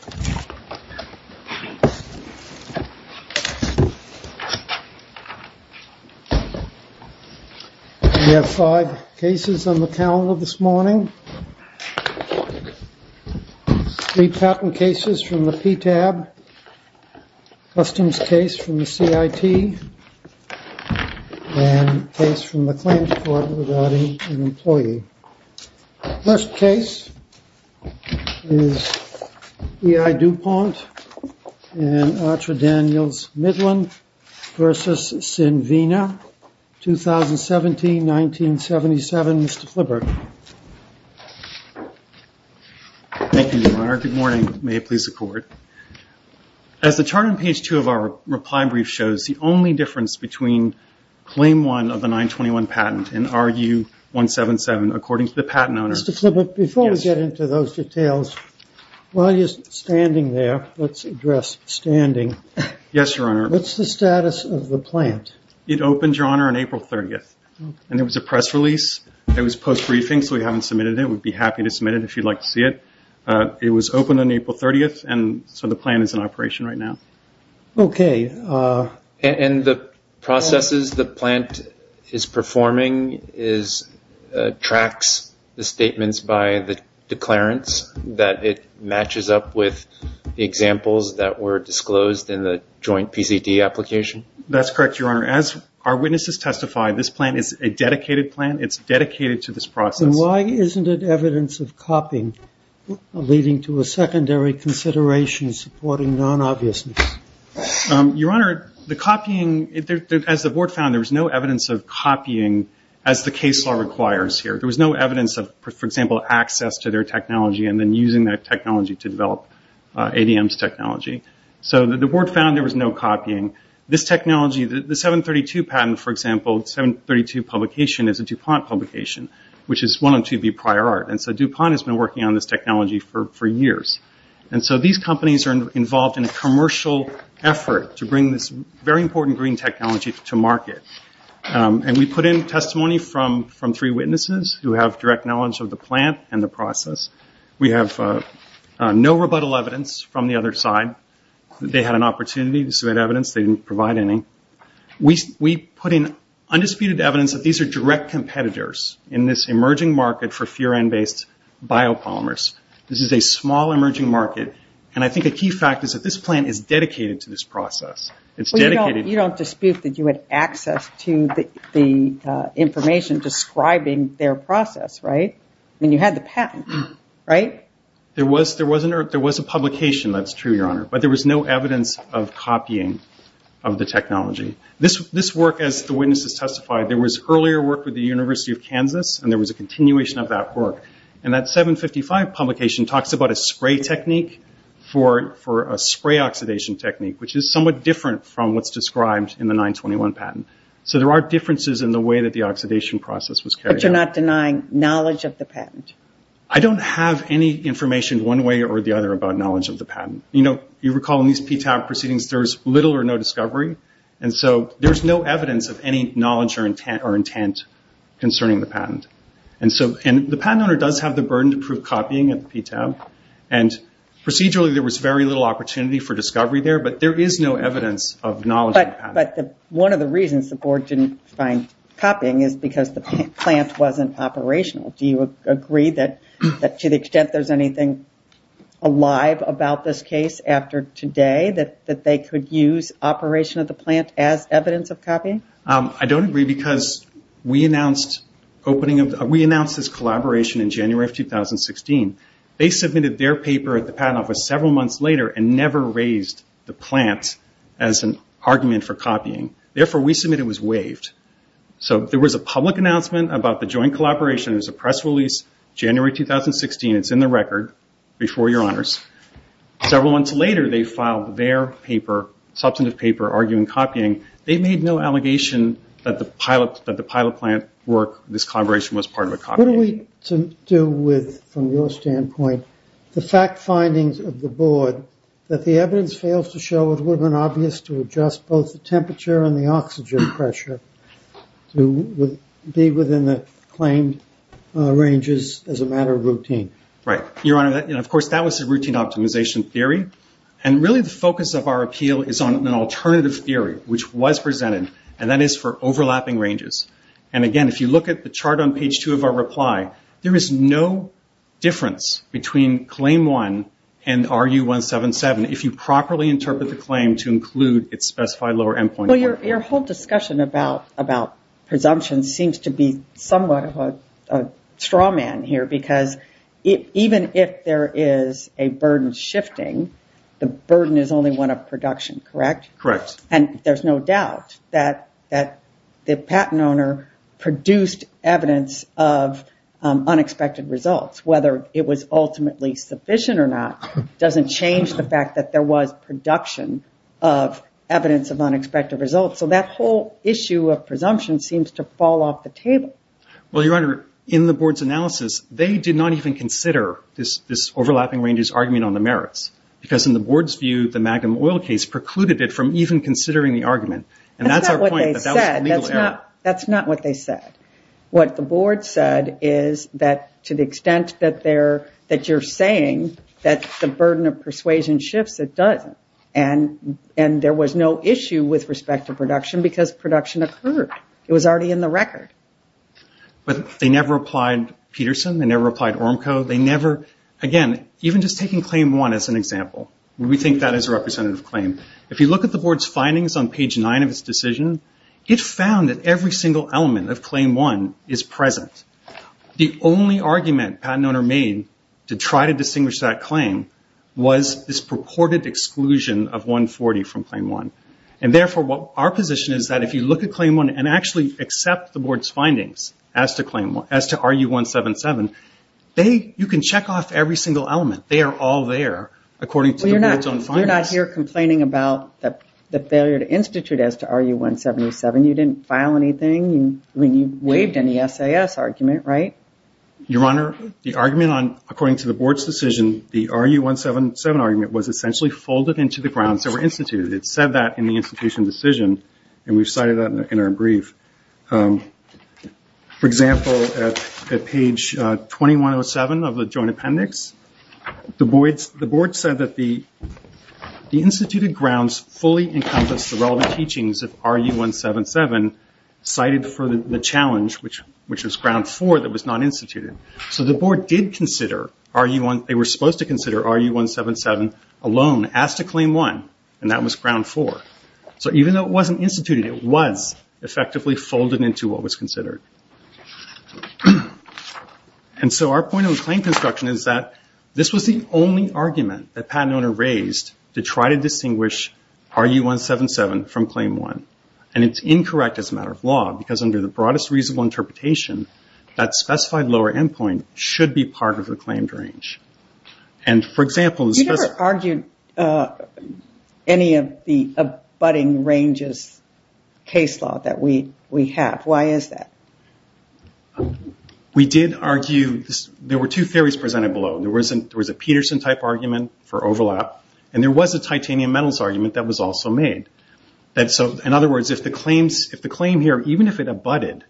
We have five cases on the calendar this morning. Three patent cases from the PTAB, a customs case from the CIT, and a case from the Claims Court regarding an employee. The first case is E.I. DuPont and Artra Daniels Midland v. Synvina, 2017-1977. Mr. Fliberg. Thank you, Your Honor. Good morning. May it please the Court. As the chart on page two of our reply brief shows, the only difference between Claim 1 of the 921 patent and RU-177, according to the patent owner. Mr. Fliberg, before we get into those details, while you're standing there, let's address standing. Yes, Your Honor. What's the status of the plant? It opened, Your Honor, on April 30th, and there was a press release. It was post-briefing, so we haven't submitted it. We'd be happy to submit it if you'd like to see it. It was opened on April 30th, and so the plant is in operation right now. Okay. And the processes the plant is performing tracks the statements by the declarants that it matches up with the examples that were disclosed in the joint PCT application? That's correct, Your Honor. As our witnesses testify, this plant is a dedicated plant. It's dedicated to this process. Why isn't it evidence of copying leading to a secondary consideration supporting non-obviousness? Your Honor, the copying, as the Board found, there was no evidence of copying as the case law requires here. There was no evidence of, for example, access to their technology and then using that technology to develop ADM's technology. So the Board found there was no For example, 732 Publication is a DuPont publication, which is one of 2B Prior Art, and so DuPont has been working on this technology for years. And so these companies are involved in a commercial effort to bring this very important green technology to market, and we put in testimony from three witnesses who have direct knowledge of the plant and the process. We have no rebuttal evidence from the other side. They had an undisputed evidence that these are direct competitors in this emerging market for furan-based biopolymers. This is a small emerging market, and I think a key fact is that this plant is dedicated to this process. You don't dispute that you had access to the information describing their process, right? I mean, you had the patent, right? There was a publication, that's true, Your Honor, but there was no evidence of copying of the technology. This work, as the witnesses testified, there was earlier work with the University of Kansas, and there was a continuation of that work. And that 755 Publication talks about a spray technique for a spray oxidation technique, which is somewhat different from what's described in the 921 patent. So there are differences in the way that the oxidation process was carried out. But you're not denying knowledge of the patent? I don't have any information one way or the other about knowledge of the patent. You recall in these PTAB proceedings, there's little or no discovery, and so there's no evidence of any knowledge or intent concerning the patent. The patent owner does have the burden to prove copying at the PTAB, and procedurally there was very little opportunity for discovery there, but there is no evidence of knowledge of the patent. One of the reasons the board didn't find copying is because the plant wasn't operational. Do you agree that to the extent there's anything alive about this case after today, that they could use operation of the plant as evidence of copying? I don't agree because we announced this collaboration in January of 2016. They submitted their paper at the patent office several months later and never raised the plant as an argument for copying. Therefore, we submit it was waived. So there was a public announcement about the joint collaboration. It was a press release, January 2016. It's in the record before your honors. Several months later, they filed their paper, substantive paper, arguing copying. They made no allegation that the pilot plant work, this collaboration, was part of a copy. What do we do with, from your standpoint, the fact findings of the board that the evidence fails to show it would have been obvious to adjust both the temperature and the oxygen pressure to be within the claimed ranges as a matter of routine? Of course, that was the routine optimization theory. Really, the focus of our appeal is on an alternative theory, which was presented, and that is for overlapping ranges. Again, if you look at the chart on page 2 of our reply, there is no difference between claim 1 and RU-177 if you properly interpret the claim to include its specified lower endpoint. Your whole discussion about presumptions seems to be somewhat of a straw man here. Even if there is a burden shifting, the burden is only one of production, correct? Correct. There's no doubt that the patent owner produced evidence of unexpected results. Whether it was ultimately sufficient or not doesn't change the fact that there was production of evidence of unexpected results. That whole issue of presumption seems to fall off the table. Well, Your Honor, in the board's analysis, they did not even consider this overlapping ranges argument on the merits because in the board's view, the Magum oil case precluded it from even considering the argument. That's our point. That's not what they said. That's not what they said. What the board said is that to the extent that you're saying that the burden of persuasion shifts, it doesn't. There was no issue with respect to production because production occurred. It was already in the record. They never applied Peterson. They never applied Ormco. Again, even just taking claim 1 as an example, we think that is a representative claim. If you look at the board's findings on page 9 of its decision, it found that every single element of claim 1 is present. The only argument patent owner made to try to distinguish that claim was this purported exclusion of 140 from claim 1. Therefore, our position is that if you look at claim 1 and actually accept the board's findings as to RU-177, you can check off every single element. They are all there according to the board's own findings. You're not here complaining about the failure to institute as to RU-177. You didn't file anything. You waived any SAS argument, right? Your Honor, according to the board's decision, the RU-177 argument was essentially full of the grounds that were instituted. It said that in the institution decision. We cited that in our brief. For example, at page 2107 of the joint appendix, the board said that the instituted grounds fully encompass the relevant teachings of RU-177 cited for the challenge, which was ground 4 that was not instituted. The board did consider RU-177. They were supposed to consider RU-177 alone as to claim 1, and that was ground 4. Even though it wasn't instituted, it was effectively folded into what was considered. Our point on claim construction is that this was the only argument that patent owner raised to try to distinguish RU-177 from claim 1. It's incorrect as a matter of law because under the broadest reasonable interpretation, that specified lower end point should be part of the claimed range. For example, the specified... You never argued any of the abutting ranges case law that we have. Why is that? We did argue... There were two theories presented below. There was a Peterson type argument for overlap, and there was a titanium metals argument that was also made. In other words, if the claim here, even if it abutted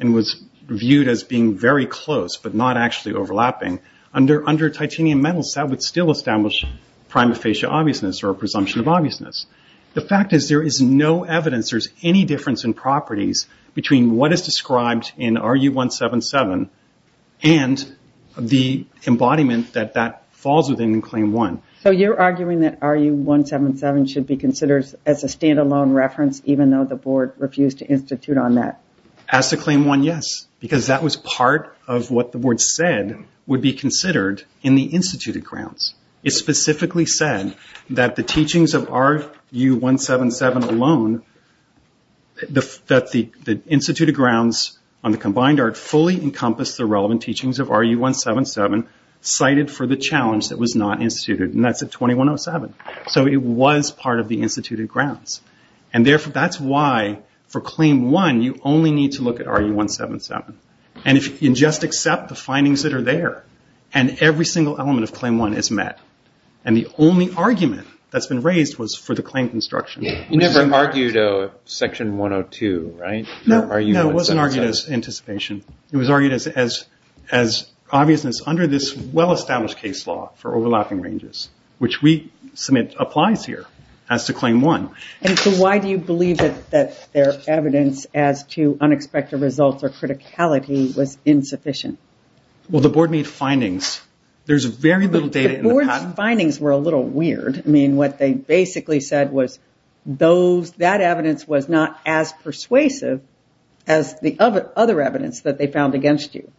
and was viewed as being very close but not actually overlapping, under titanium metals, that would still establish prima facie obviousness or a presumption of obviousness. The fact is there is no evidence there's any difference in properties between what is described in RU-177 and the embodiment that that falls within claim 1. You're arguing that RU-177 should be considered as a standalone reference even though the board refused to institute on that? As to claim 1, yes, because that was part of what the board said would be considered in the instituted grounds. It specifically said that the teachings of RU-177 alone, that the instituted grounds on the combined art fully encompass the relevant teachings of RU-177. That's at 2107. It was part of the instituted grounds. Therefore, that's why for claim 1, you only need to look at RU-177. You just accept the findings that are there, and every single element of claim 1 is met. The only argument that's been raised was for the claim construction. You never argued a section 102, right? No, it wasn't argued as anticipation. It was argued as obviousness under this well-established case law for overlapping ranges, which we submit applies here as to claim 1. Why do you believe that their evidence as to unexpected results or criticality was insufficient? The board made findings. There's very little data in the patent. The board's findings were a little weird. What they basically said was that evidence was not as persuasive as the other evidence that they found against you.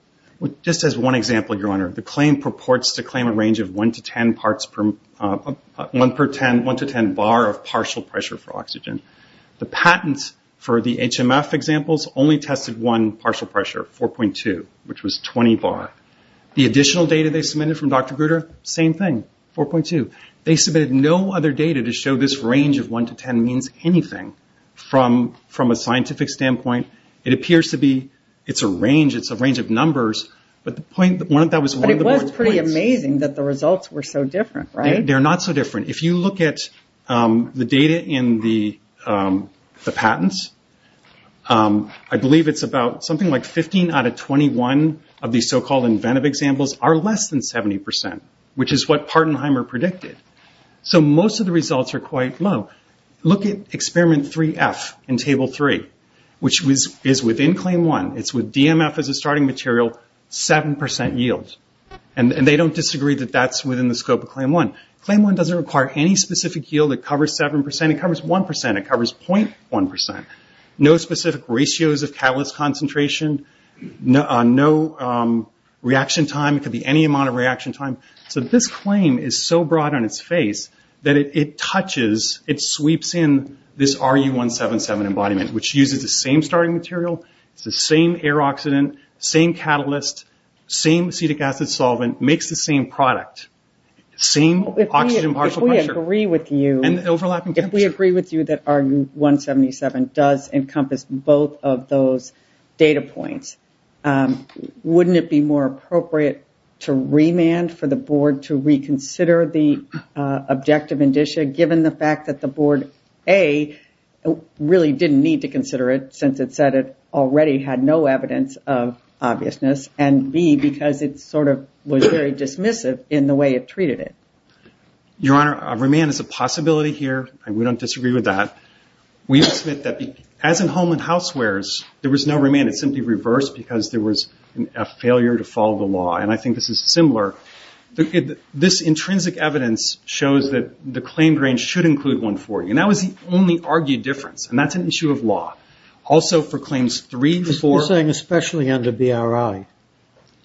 Just as one example, Your Honor, the claim purports to claim a range of 1-10 bar of partial pressure for oxygen. The patent for the HMF examples only tested one partial pressure, 4.2, which was 20 bar. The additional data they submitted from Dr. Grutter, same thing, 4.2. They submitted no other data to show this range of 1-10 means anything from a scientific standpoint. It appears to be it's a range. It's a range of numbers, but the point that one of that was one of the board's points. It was pretty amazing that the results were so different, right? They're not so different. If you look at the data in the patents, I believe it's about something like 15 out of 21 of these so-called inventive examples are less than 70%, which is what Partenheimer predicted. Most of the results are quite low. Look at Experiment 3F in Table 3, which is within Claim 1. It's with DMF as a starting material, 7% yield. They don't disagree that that's within the scope of Claim 1. Claim 1 doesn't require any specific yield. It covers 7%. It covers 1%. It covers 0.1%. No specific ratios of catalyst concentration. No reaction time. It could be any amount of reaction time. This claim is so broad on its face that it touches, it sweeps in this RU177 embodiment, which uses the same starting material. It's the same air oxidant, same catalyst, same acetic acid solvent, makes the same product, same oxygen partial pressure. If we agree with you that RU177 does encompass both of those data points, wouldn't it be more appropriate to remand for the board to reconsider the objective indicia, given the fact that the board, A, really didn't need to consider it since it said it already had no evidence of obviousness, and B, because it was very dismissive in the way it treated it? Your Honor, remand is a possibility here. We don't disagree with that. We submit that as in Holman Housewares, there was no remand. It simply reversed because there was a failure to follow the law, and I think this is similar. This intrinsic evidence shows that the claim range should include 140, and that was the only argued difference, and that's an issue of law. Also, for claims 3, 4... You're saying especially under BRI.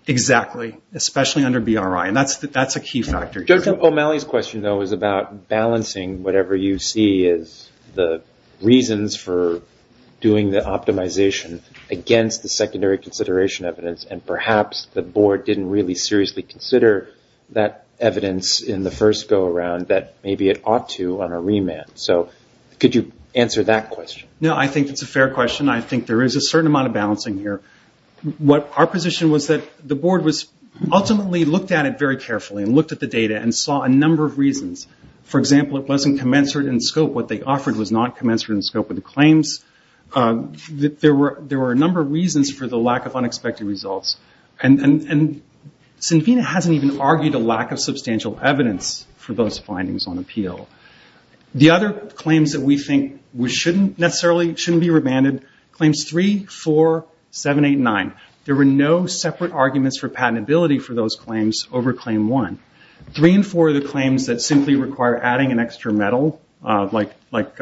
Exactly. Especially under BRI, and that's a key factor here. Judge O'Malley's question, though, is about balancing whatever you see as the reasons for doing the optimization against the secondary consideration evidence, and perhaps the board didn't really seriously consider that evidence in the first go-around that maybe it ought to on a remand. Could you answer that question? No, I think it's a fair question. I think there is a certain amount of balancing here. Our position was that the board ultimately looked at it very carefully, and looked at the data, and saw a number of reasons. For example, it wasn't commensurate in scope. What they offered was not commensurate in scope with the claims. There were a number of reasons for the lack of unexpected results, and Sinvina hasn't even argued a lack of substantial evidence for those findings on appeal. The other claims that we think shouldn't necessarily be remanded, claims 3, 4, 7, 8, 9. There were no separate arguments for patentability for those claims over claim 1. 3 and 4 are the same, like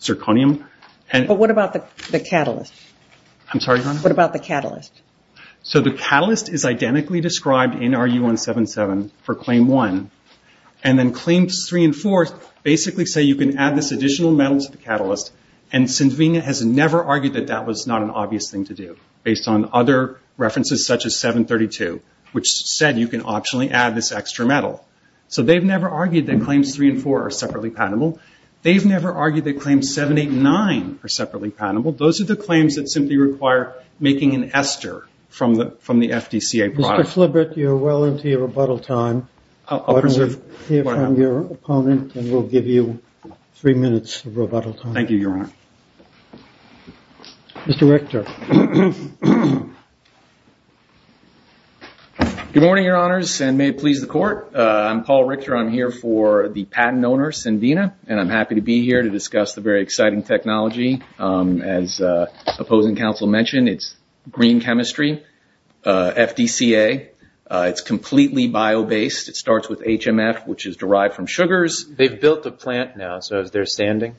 zirconium. What about the catalyst? The catalyst is identically described in RU177 for claim 1. Claims 3 and 4 basically say you can add this additional metal to the catalyst. Sinvina has never argued that that was not an obvious thing to do, based on other references such as 732, which said you can optionally add this extra metal. They've never argued that claims 3 and 4 are separately patentable. They've never argued that claims 7, 8, 9 are separately patentable. Those are the claims that simply require making an ester from the FDCA product. Mr. Flibert, you're well into your rebuttal time. Why don't we hear from your opponent, and we'll give you three minutes of rebuttal time. Thank you, Your Honor. Mr. Richter. Good morning, Your Honors, and may it please the Court. I'm Paul Richter. I'm here for the first time, and I'm happy to be here to discuss the very exciting technology. As opposing counsel mentioned, it's green chemistry, FDCA. It's completely bio-based. It starts with HMF, which is derived from sugars. They've built a plant now, so is there standing?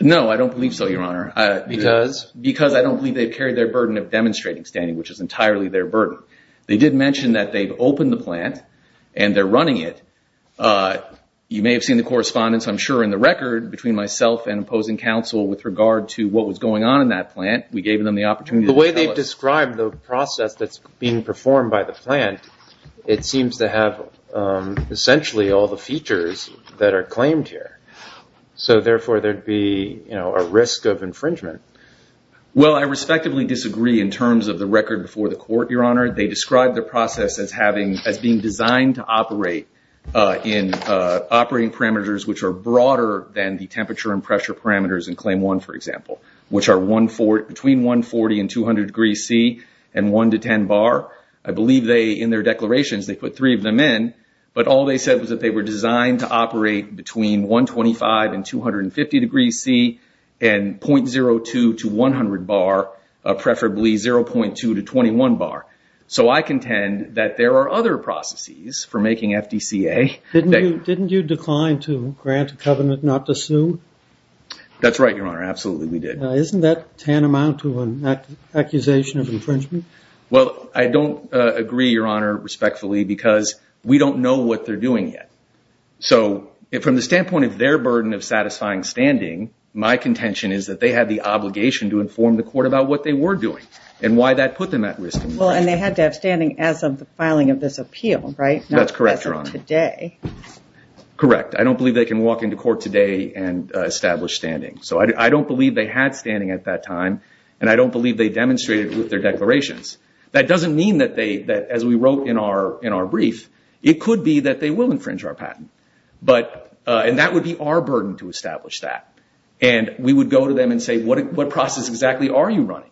No, I don't believe so, Your Honor. Because? Because I don't believe they've carried their burden of demonstrating standing, which is entirely their burden. They did mention that they've opened the plant, and they're running it. You may have seen the correspondence, I'm sure, in the record between myself and opposing counsel with regard to what was going on in that plant. We gave them the opportunity to tell us. The way they've described the process that's being performed by the plant, it seems to have essentially all the features that are claimed here. So therefore, there'd be a risk of infringement. Well, I respectively disagree in terms of the record before the Court, Your Honor. They described the process as being designed to operate in operating parameters which are broader than the temperature and pressure parameters in Claim 1, for example, which are between 140 and 200 degrees C, and 1 to 10 bar. I believe in their declarations, they put three of them in, but all they said was that they were designed to operate between 125 and 250 degrees C, and 0.02 to 100 bar, preferably 0.2 to 21 bar. So I contend that there are other processes for making FDCA. Didn't you decline to grant a covenant not to sue? That's right, Your Honor. Absolutely, we did. Isn't that tantamount to an accusation of infringement? Well, I don't agree, Your Honor, respectfully, because we don't know what they're doing yet. So from the standpoint of their burden of satisfying standing, my contention is that they had the obligation to inform the Court about what they were doing and why that put them at risk. Well, and they had to have standing as of the filing of this appeal, right? That's correct, Your Honor. Not as of today. Correct. I don't believe they can walk into court today and establish standing. So I don't believe they had standing at that time, and I don't believe they demonstrated it with their declarations. That doesn't mean that they, as we wrote in our brief, it could be that they will infringe our patent. And that would be our burden to establish that. And we would go to them and say, what process exactly are you running?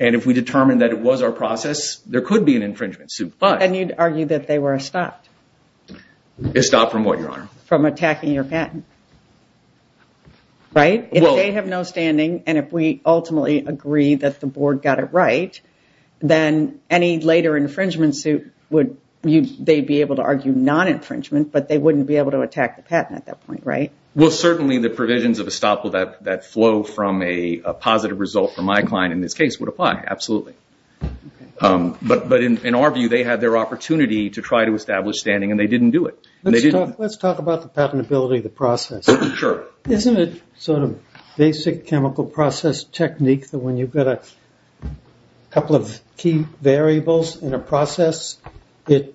And if we determined that it was our process, there could be an infringement suit. And you'd argue that they were stopped. Stopped from what, Your Honor? From attacking your patent. Right? If they have no standing, and if we ultimately agree that the Board got it right, then any They wouldn't be able to argue non-infringement, but they wouldn't be able to attack the patent at that point, right? Well, certainly the provisions of estoppel that flow from a positive result for my client in this case would apply, absolutely. But in our view, they had their opportunity to try to establish standing, and they didn't do it. Let's talk about the patentability of the process. Sure. Isn't it sort of basic chemical process technique that when you've got a couple of key variables in a process, there's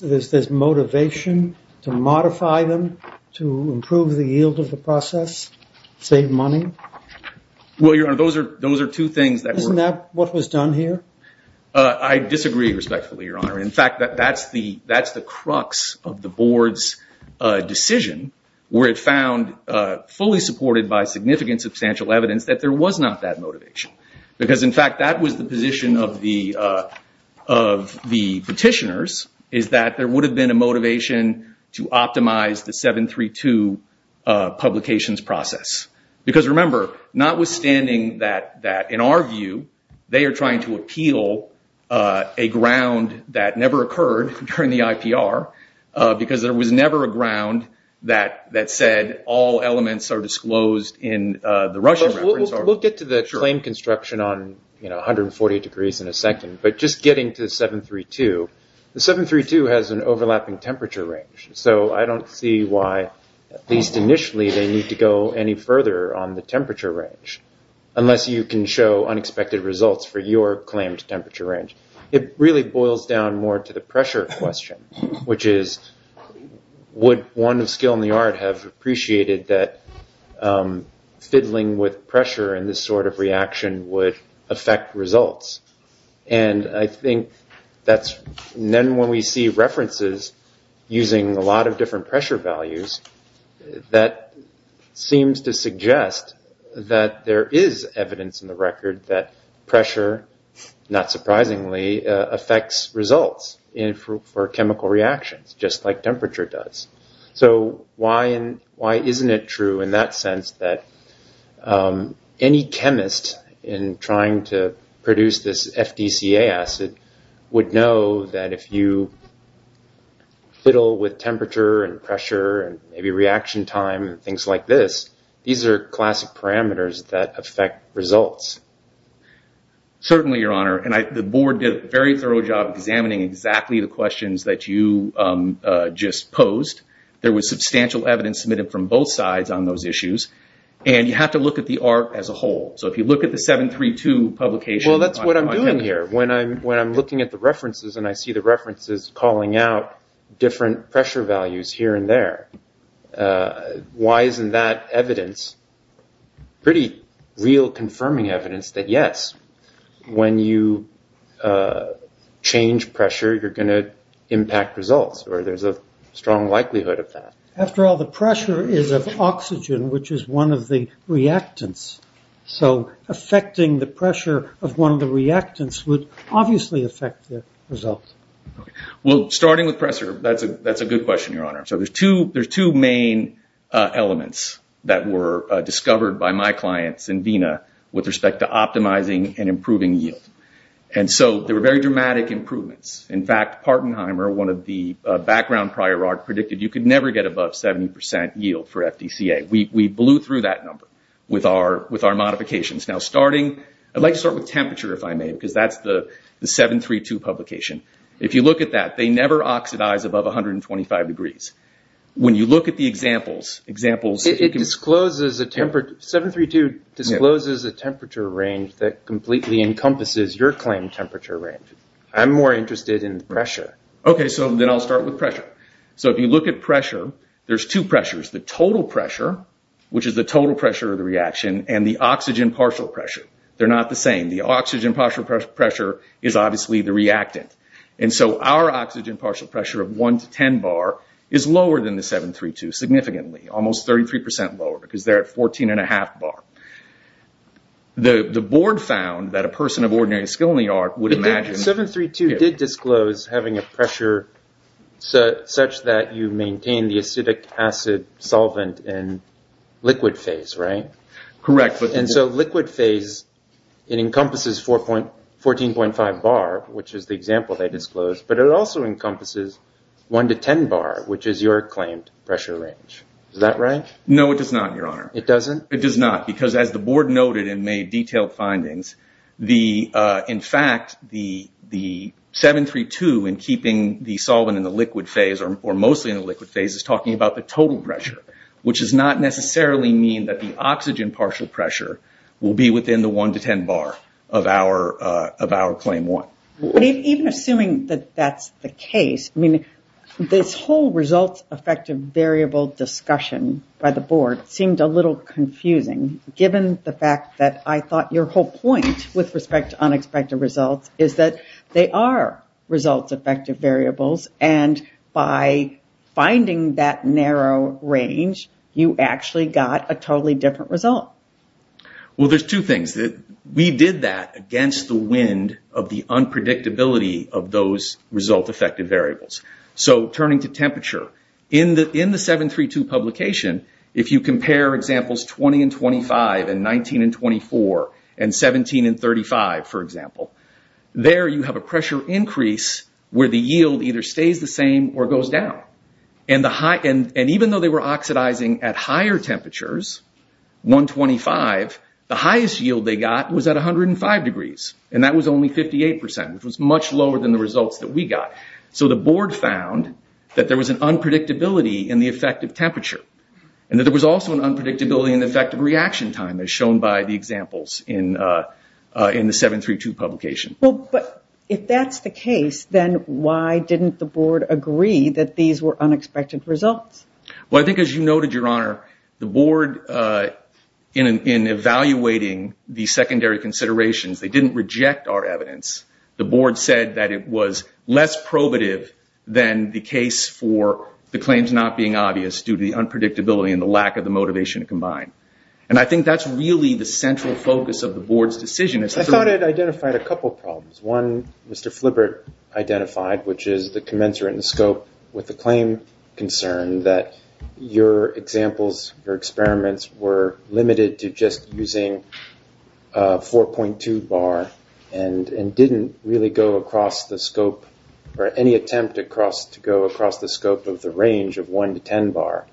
this motivation to modify them to improve the yield of the process, save money? Well, Your Honor, those are two things that were Isn't that what was done here? I disagree respectfully, Your Honor. In fact, that's the crux of the Board's decision, where it found fully supported by significant substantial evidence that there was not that motivation. Because in fact, that was the position of the petitioners, is that there would have been a motivation to optimize the 732 publications process. Because remember, notwithstanding that, in our view, they are trying to appeal a ground that never occurred during the IPR, because there was never a ground that said all elements are disclosed in the Russian reference. We'll get to the claim construction on 140 degrees in a second. But just getting to the 732, the 732 has an overlapping temperature range. So I don't see why, at least initially, they need to go any further on the temperature range, unless you can show unexpected results for your claimed temperature range. It really boils down more to the pressure question, which is, would one of skill in art have appreciated that fiddling with pressure in this sort of reaction would affect results? And I think that's, then when we see references using a lot of different pressure values, that seems to suggest that there is evidence in the record that pressure, not surprisingly, affects results for chemical reactions, just like temperature does. So why isn't it true in that sense that any chemist in trying to produce this FDCA acid would know that if you fiddle with temperature and pressure and maybe reaction time and things like this, these are classic parameters that affect results? Certainly, Your Honor. And the board did a very thorough job examining exactly the questions that you just posed. There was substantial evidence submitted from both sides on those issues. And you have to look at the art as a whole. So if you look at the 732 publication... Well, that's what I'm doing here. When I'm looking at the references and I see the references calling out different pressure values here and there, why isn't that evidence, pretty real confirming evidence, that yes, when you change pressure, you're going to impact results, or there's a strong likelihood of that? After all, the pressure is of oxygen, which is one of the reactants. So affecting the pressure of one of the reactants would obviously affect the results. Well, starting with pressure, that's a good question, Your Honor. So there's two main elements that were discovered by my clients in Vena with respect to optimizing and improving yield. And so there were very dramatic improvements. In fact, Partenheimer, one of the background prior art, predicted you could never get above 70 percent yield for FDCA. We blew through that number with our modifications. Now, starting... I'd like to start with temperature, if I may, because that's the 732 publication. If you look at that, they never oxidize above 125 degrees. When you look at the examples... It discloses a temperature... 732 discloses a temperature range that completely encompasses your claimed temperature range. I'm more interested in pressure. Okay, so then I'll start with pressure. So if you look at pressure, there's two pressures. The total pressure, which is the total pressure of the reaction, and the oxygen partial pressure. They're not the same. The oxygen partial pressure is obviously the reactant. And so our oxygen partial pressure of 1 to 10 bar is lower than the 732, significantly. Almost 33 percent lower, because they're at 14 and a half bar. The board found that a person of ordinary skill in the art would imagine... 732 did disclose having a pressure such that you maintain the acidic acid solvent in liquid phase, right? Correct. And so liquid phase, it encompasses 14.5 bar, which is the example they disclosed. But it also encompasses 1 to 10 bar, which is your claimed pressure range. Is that right? No, it does not, Your Honor. It doesn't? It does not, because as the board noted and made detailed findings, in fact, the 732 in keeping the solvent in the liquid phase, or mostly in the liquid phase, is talking about the total pressure, which does not necessarily mean that the oxygen partial pressure will be within the 1 to 10 bar of our claim 1. Even assuming that that's the case, I mean, this whole results effective variable discussion by the board seemed a little confusing, given the fact that I thought your whole point with respect to unexpected results is that they are results effective variables, and by finding that narrow range, you actually got a totally different result. Well, there's two things. We did that against the wind of the unpredictability of those results effective variables. So turning to temperature, in the 732 publication, if you compare examples 20 and 25 and 19 and 24 and 17 and 35, for example, there you have a pressure increase where the yield either stays the same or goes down. And even though they were oxidizing at higher temperatures, 125, the highest yield they got was at 105 degrees, and that was only 58%, which was much lower than the results that we got. So the board found that there was an unpredictability in the effective temperature, and that there was also an unpredictability in the effective reaction time, as shown by the examples in the 732 publication. Well, but if that's the case, then why didn't the board agree that these were unexpected results? Well, I think, as you noted, Your Honor, the board, in evaluating the secondary considerations, they didn't reject our evidence. The board said that it was less probative than the case for the claims not being obvious due to the unpredictability and the lack of the motivation to combine. And I think that's really the central focus of the board's decision. I thought it identified a couple problems. One, Mr. Flibert identified, which is the commensurate in scope with the claim concern that your examples, your experiments were limited to just using 4.2 bar and didn't really go across the scope or any attempt to go across the scope of the range of 1 to 10 bar.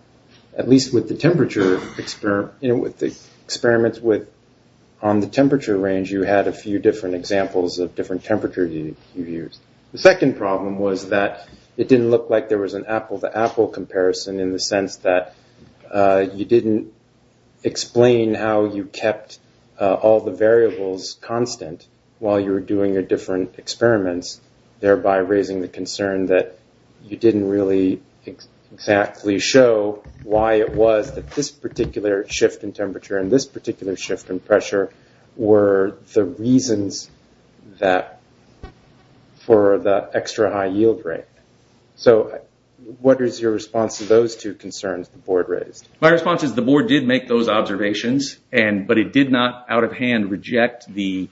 At least with the experiments on the temperature range, you had a few different examples of different temperature you used. The second problem was that it didn't look like there was an apple-to-apple comparison in the sense that you didn't explain how you kept all the variables constant while you were doing your different experiments, thereby raising the concern that you didn't really exactly show why it was that this particular shift in temperature and this particular shift in pressure were the reasons for the extra high yield rate. So what is your response to those two concerns the board raised? My response is the board did make those observations, but it did not out of hand reject the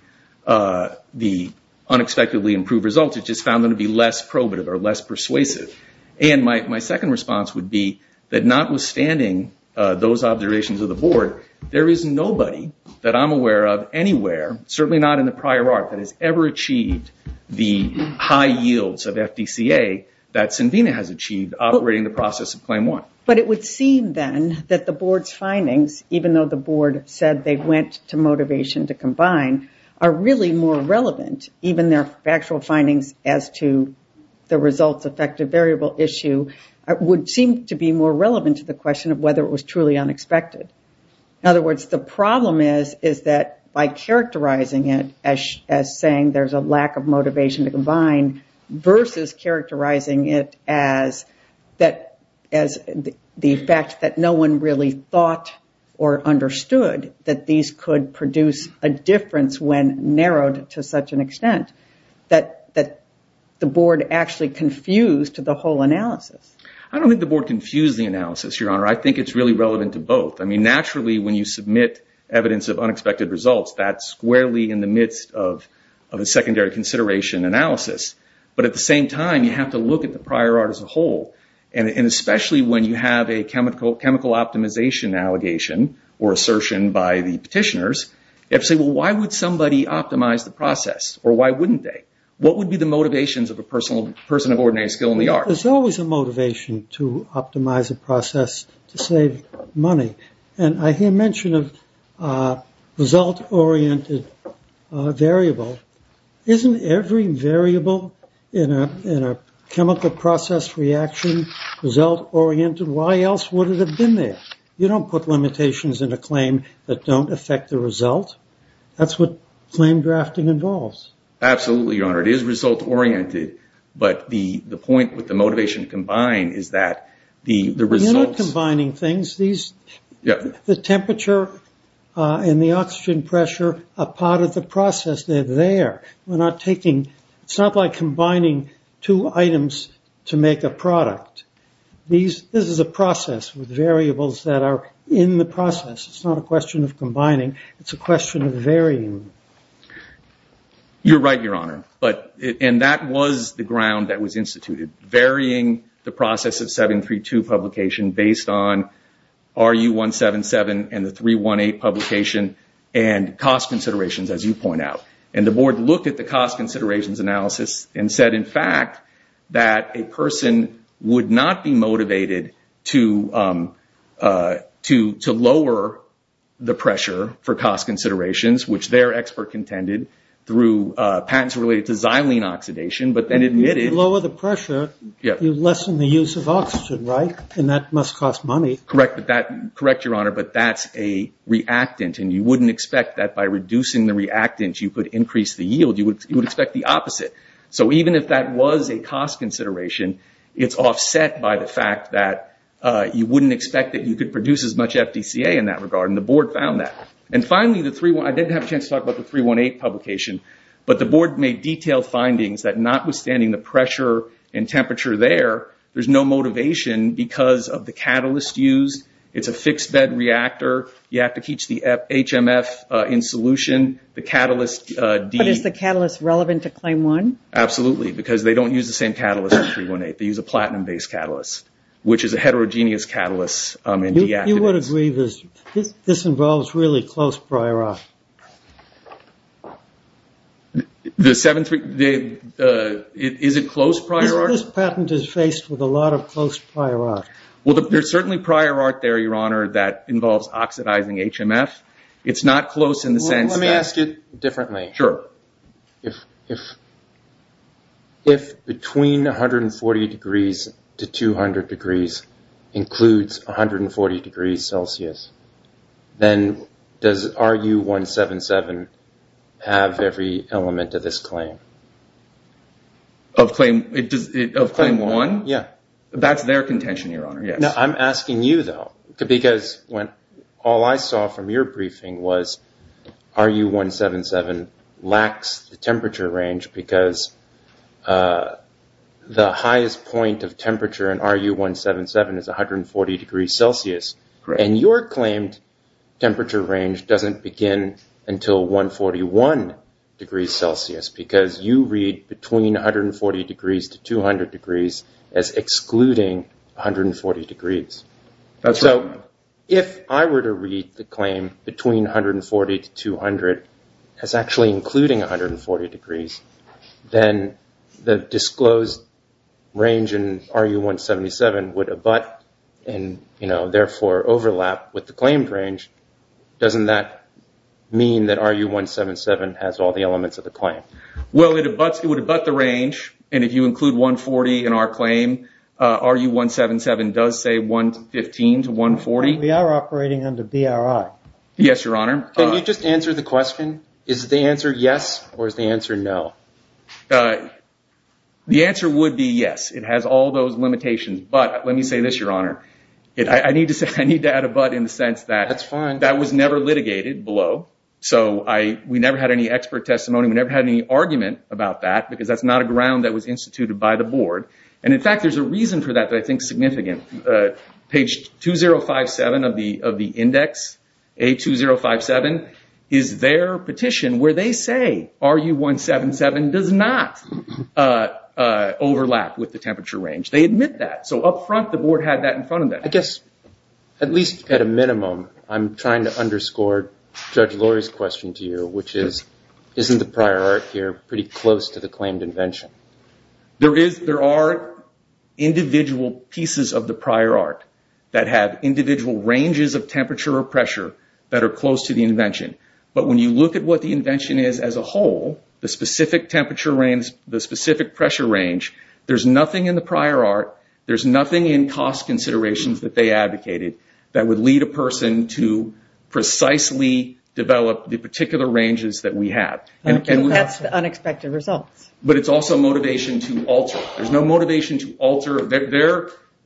unexpectedly improved results. It just found them to be less probative or less persuasive. My second response would be that notwithstanding those observations of the board, there is nobody that I'm aware of anywhere, certainly not in the prior arc, that has ever achieved the high yields of FDCA that Synvena has achieved operating the process of Claim 1. But it would seem then that the board's findings, even though the board said they went to motivation to combine, are really more relevant, even their factual findings as to the results effective variable issue, would seem to be more relevant to the question of whether it was truly unexpected. In other words, the problem is that by characterizing it as saying there's a lack of motivation to combine versus characterizing it as the fact that no one really thought or understood that these could produce a difference when narrowed to such an extent, that the board actually confused the whole analysis. I don't think the board confused the analysis, Your Honor. I think it's really relevant to both. I mean, naturally, when you submit evidence of unexpected results, that's squarely in the midst of a secondary consideration analysis. But at the same time, you have to look at the prior arc as a whole. And especially when you have a chemical optimization allegation or assertion by the petitioners, you have to say, well, why would somebody optimize the process? Or why wouldn't they? What would be the motivations of a person of ordinary skill in the art? There's always a motivation to optimize a process to save money. And I hear mention of result-oriented variable. Isn't every variable in a chemical process reaction result-oriented? Why else would it have been there? You don't put limitations in a claim that don't affect the result. That's what claim drafting involves. Absolutely, Your Honor. It is result-oriented. But the point with the motivation to combine is that the results. You're not combining things. The temperature and the oxygen pressure are part of the process. They're there. We're not taking. It's not like combining two items to make a product. This is a process with variables that are in the process. It's not a question of combining. It's a question of varying. You're right, Your Honor. And that was the ground that was instituted, varying the process of 732 publication based on RU177 and the 318 publication and cost considerations, as you point out. And the board looked at the cost considerations analysis and said, in fact, that a person would not be motivated to lower the pressure for cost considerations, which their expert contended through patents related to xylene oxidation, but then admitted. If you lower the pressure, you lessen the use of oxygen, right? And that must cost money. Correct, Your Honor. But that's a reactant, and you wouldn't expect that by reducing the reactant you could increase the yield. You would expect the opposite. So even if that was a cost consideration, it's offset by the fact that you wouldn't expect that you could produce as much FDCA in that regard, and the board found that. And finally, I didn't have a chance to talk about the 318 publication, but the board made detailed findings that notwithstanding the pressure and temperature there, there's no motivation because of the catalyst used. It's a fixed bed reactor. You have to keep the HMF in solution. But is the catalyst relevant to claim one? Absolutely, because they don't use the same catalyst as 318. They use a platinum-based catalyst, which is a heterogeneous catalyst. You would agree this involves really close prior art. Is it close prior art? This patent is faced with a lot of close prior art. Well, there's certainly prior art there, Your Honor, that involves oxidizing HMF. It's not close in the sense that- Let me ask it differently. Sure. If between 140 degrees to 200 degrees includes 140 degrees Celsius, then does RU-177 have every element of this claim? Of claim one? Yeah. That's their contention, Your Honor, yes. I'm asking you, though, because all I saw from your briefing was RU-177 lacks the temperature range because the highest point of temperature in RU-177 is 140 degrees Celsius. Correct. And your claimed temperature range doesn't begin until 141 degrees Celsius because you read between 140 degrees to 200 degrees as excluding 140 degrees. That's right. So if I were to read the claim between 140 to 200 as actually including 140 degrees, then the disclosed range in RU-177 would abut and, therefore, overlap with the claimed range. Doesn't that mean that RU-177 has all the elements of the claim? Well, it would abut the range. And if you include 140 in our claim, RU-177 does say 115 to 140. We are operating under BRI. Yes, Your Honor. Can you just answer the question? Is the answer yes or is the answer no? The answer would be yes. It has all those limitations. But let me say this, Your Honor. I need to add abut in the sense that that was never litigated below. So we never had any expert testimony. We never had any argument about that because that's not a ground that was instituted by the board. And, in fact, there's a reason for that that I think is significant. Page 2057 of the index, A2057, is their petition where they say RU-177 does not overlap with the temperature range. They admit that. So, up front, the board had that in front of them. I guess, at least at a minimum, I'm trying to underscore Judge Lori's question to you, which is, isn't the prior art here pretty close to the claimed invention? There are individual pieces of the prior art that have individual ranges of temperature or pressure that are close to the invention. But when you look at what the invention is as a whole, the specific temperature range, the specific pressure range, there's nothing in the prior art. There's nothing in cost considerations that they advocated that would lead a person to precisely develop the particular ranges that we have. And that's the unexpected results. But it's also motivation to alter. There's no motivation to alter.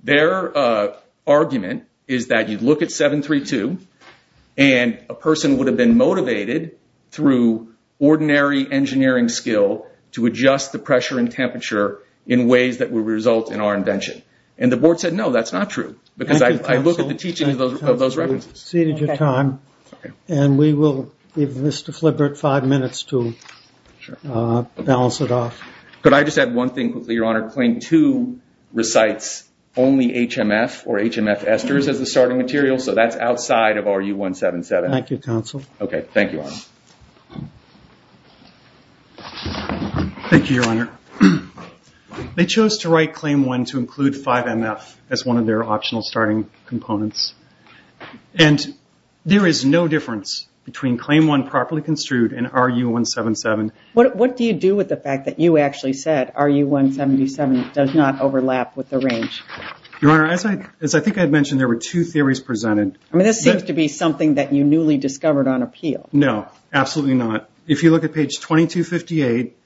Their argument is that you look at 732, and a person would have been motivated through ordinary engineering skill to adjust the pressure and temperature in ways that would result in our invention. And the board said, no, that's not true. Because I look at the teaching of those references. Thank you, counsel. You've exceeded your time. And we will give Mr. Flibert five minutes to balance it off. Could I just add one thing quickly, Your Honor? Claim 2 recites only HMF or HMF esters as the starting material, so that's outside of RU-177. Thank you, counsel. Okay. Thank you, Your Honor. Thank you, Your Honor. They chose to write Claim 1 to include 5MF as one of their optional starting components. And there is no difference between Claim 1 properly construed and RU-177. What do you do with the fact that you actually said RU-177 does not overlap with the range? Your Honor, as I think I had mentioned, there were two theories presented. I mean, this seems to be something that you newly discovered on appeal. No, absolutely not. If you look at page 2258,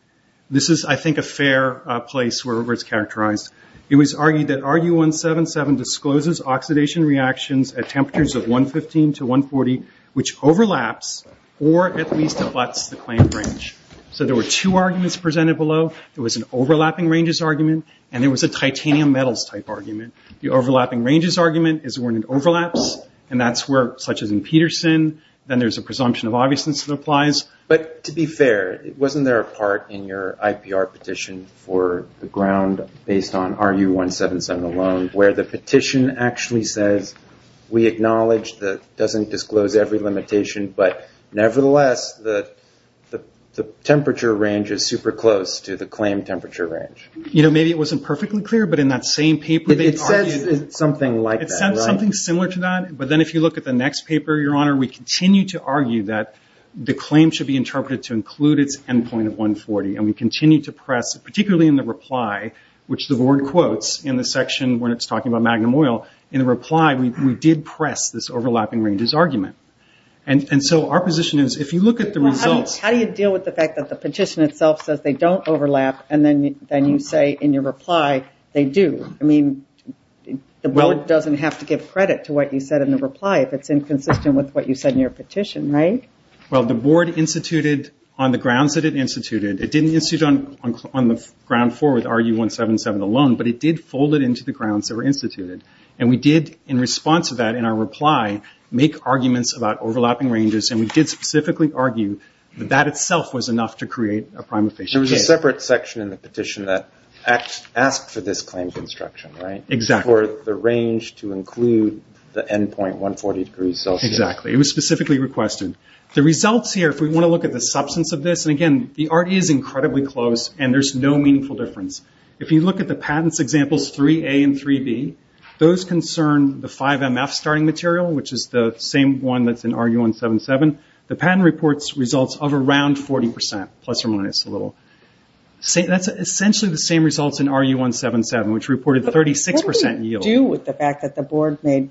this is, I think, a fair place where it's characterized. It was argued that RU-177 discloses oxidation reactions at temperatures of 115 to 140, which overlaps or at least abuts the claimed range. So there were two arguments presented below. There was an overlapping ranges argument, and there was a titanium metals type argument. The overlapping ranges argument is when it overlaps, and that's where, such as in Peterson, then there's a presumption of obviousness that applies. But to be fair, wasn't there a part in your IPR petition for the ground based on RU-177 alone where the petition actually says we acknowledge that it doesn't disclose every limitation, but nevertheless the temperature range is super close to the claimed temperature range? You know, maybe it wasn't perfectly clear, but in that same paper they argued. It says something like that, right? So then if you look at the next paper, Your Honor, we continue to argue that the claim should be interpreted to include its end point of 140, and we continue to press, particularly in the reply, which the board quotes in the section when it's talking about magnum oil, in the reply we did press this overlapping ranges argument. And so our position is if you look at the results. How do you deal with the fact that the petition itself says they don't overlap, and then you say in your reply they do? I mean, the board doesn't have to give credit to what you said in the reply if it's inconsistent with what you said in your petition, right? Well, the board instituted on the grounds that it instituted. It didn't institute on the ground floor with RU-177 alone, but it did fold it into the grounds that were instituted. And we did in response to that in our reply make arguments about overlapping ranges, and we did specifically argue that that itself was enough to create a prime official case. There was a separate section in the petition that asked for this claim construction, right? Exactly. For the range to include the end point 140 degrees Celsius. Exactly. It was specifically requested. The results here, if we want to look at the substance of this, and again, the RU is incredibly close, and there's no meaningful difference. If you look at the patents examples 3A and 3B, those concern the 5MF starting material, which is the same one that's in RU-177. The patent reports results of around 40%, plus or minus a little. That's essentially the same results in RU-177, which reported 36% yield. What did it do with the fact that the board made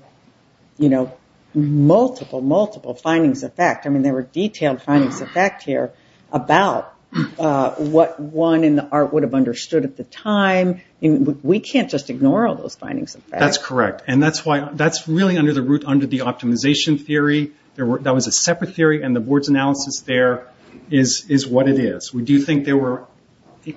multiple, multiple findings of fact? I mean, there were detailed findings of fact here about what one in the art would have understood at the time. We can't just ignore all those findings of fact. That's correct. And that's really under the root, under the optimization theory. That was a separate theory, and the board's analysis there is what it is. We do think there were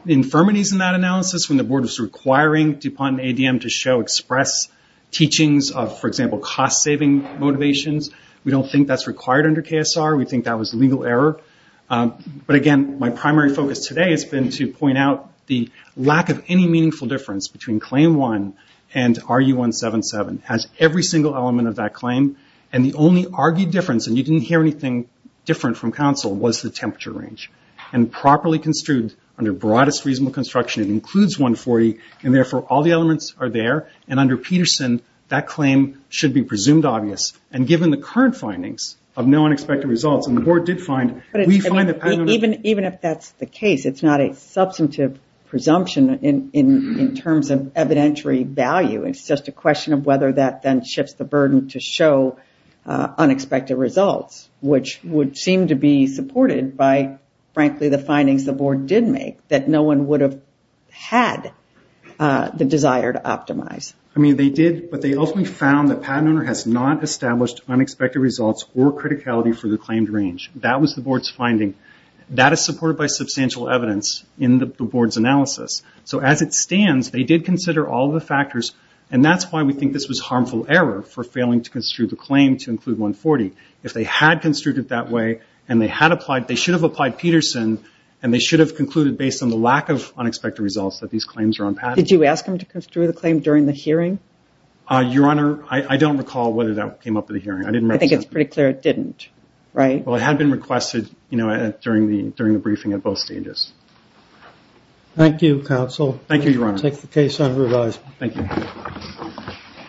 infirmities in that analysis when the board was requiring DuPont and ADM to show express teachings of, for example, cost-saving motivations. We don't think that's required under KSR. We think that was legal error. But again, my primary focus today has been to point out the lack of any meaningful difference between Claim 1 and RU-177, as every single element of that claim. And the only argued difference, and you didn't hear anything different from Council, was the temperature range. And properly construed under broadest reasonable construction, it includes 140, and therefore all the elements are there. And under Peterson, that claim should be presumed obvious. And given the current findings of no unexpected results, and the board did find, we find that... Even if that's the case, it's not a substantive presumption in terms of evidentiary value. It's just a question of whether that then shifts the burden to show unexpected results, which would seem to be supported by, frankly, the findings the board did make, that no one would have had the desire to optimize. I mean, they did, but they ultimately found that PatentOwner has not established unexpected results or criticality for the claimed range. That was the board's finding. That is supported by substantial evidence in the board's analysis. So as it stands, they did consider all the factors, and that's why we think this was harmful error for failing to construe the claim to include 140. If they had construed it that way, and they had applied, they should have applied Peterson, and they should have concluded, based on the lack of unexpected results, that these claims are unpatented. Did you ask them to construe the claim during the hearing? Your Honor, I don't recall whether that came up at the hearing. I think it's pretty clear it didn't, right? Well, it had been requested during the briefing at both stages. Thank you, counsel. Thank you, Your Honor. We will take the case on revise. Thank you.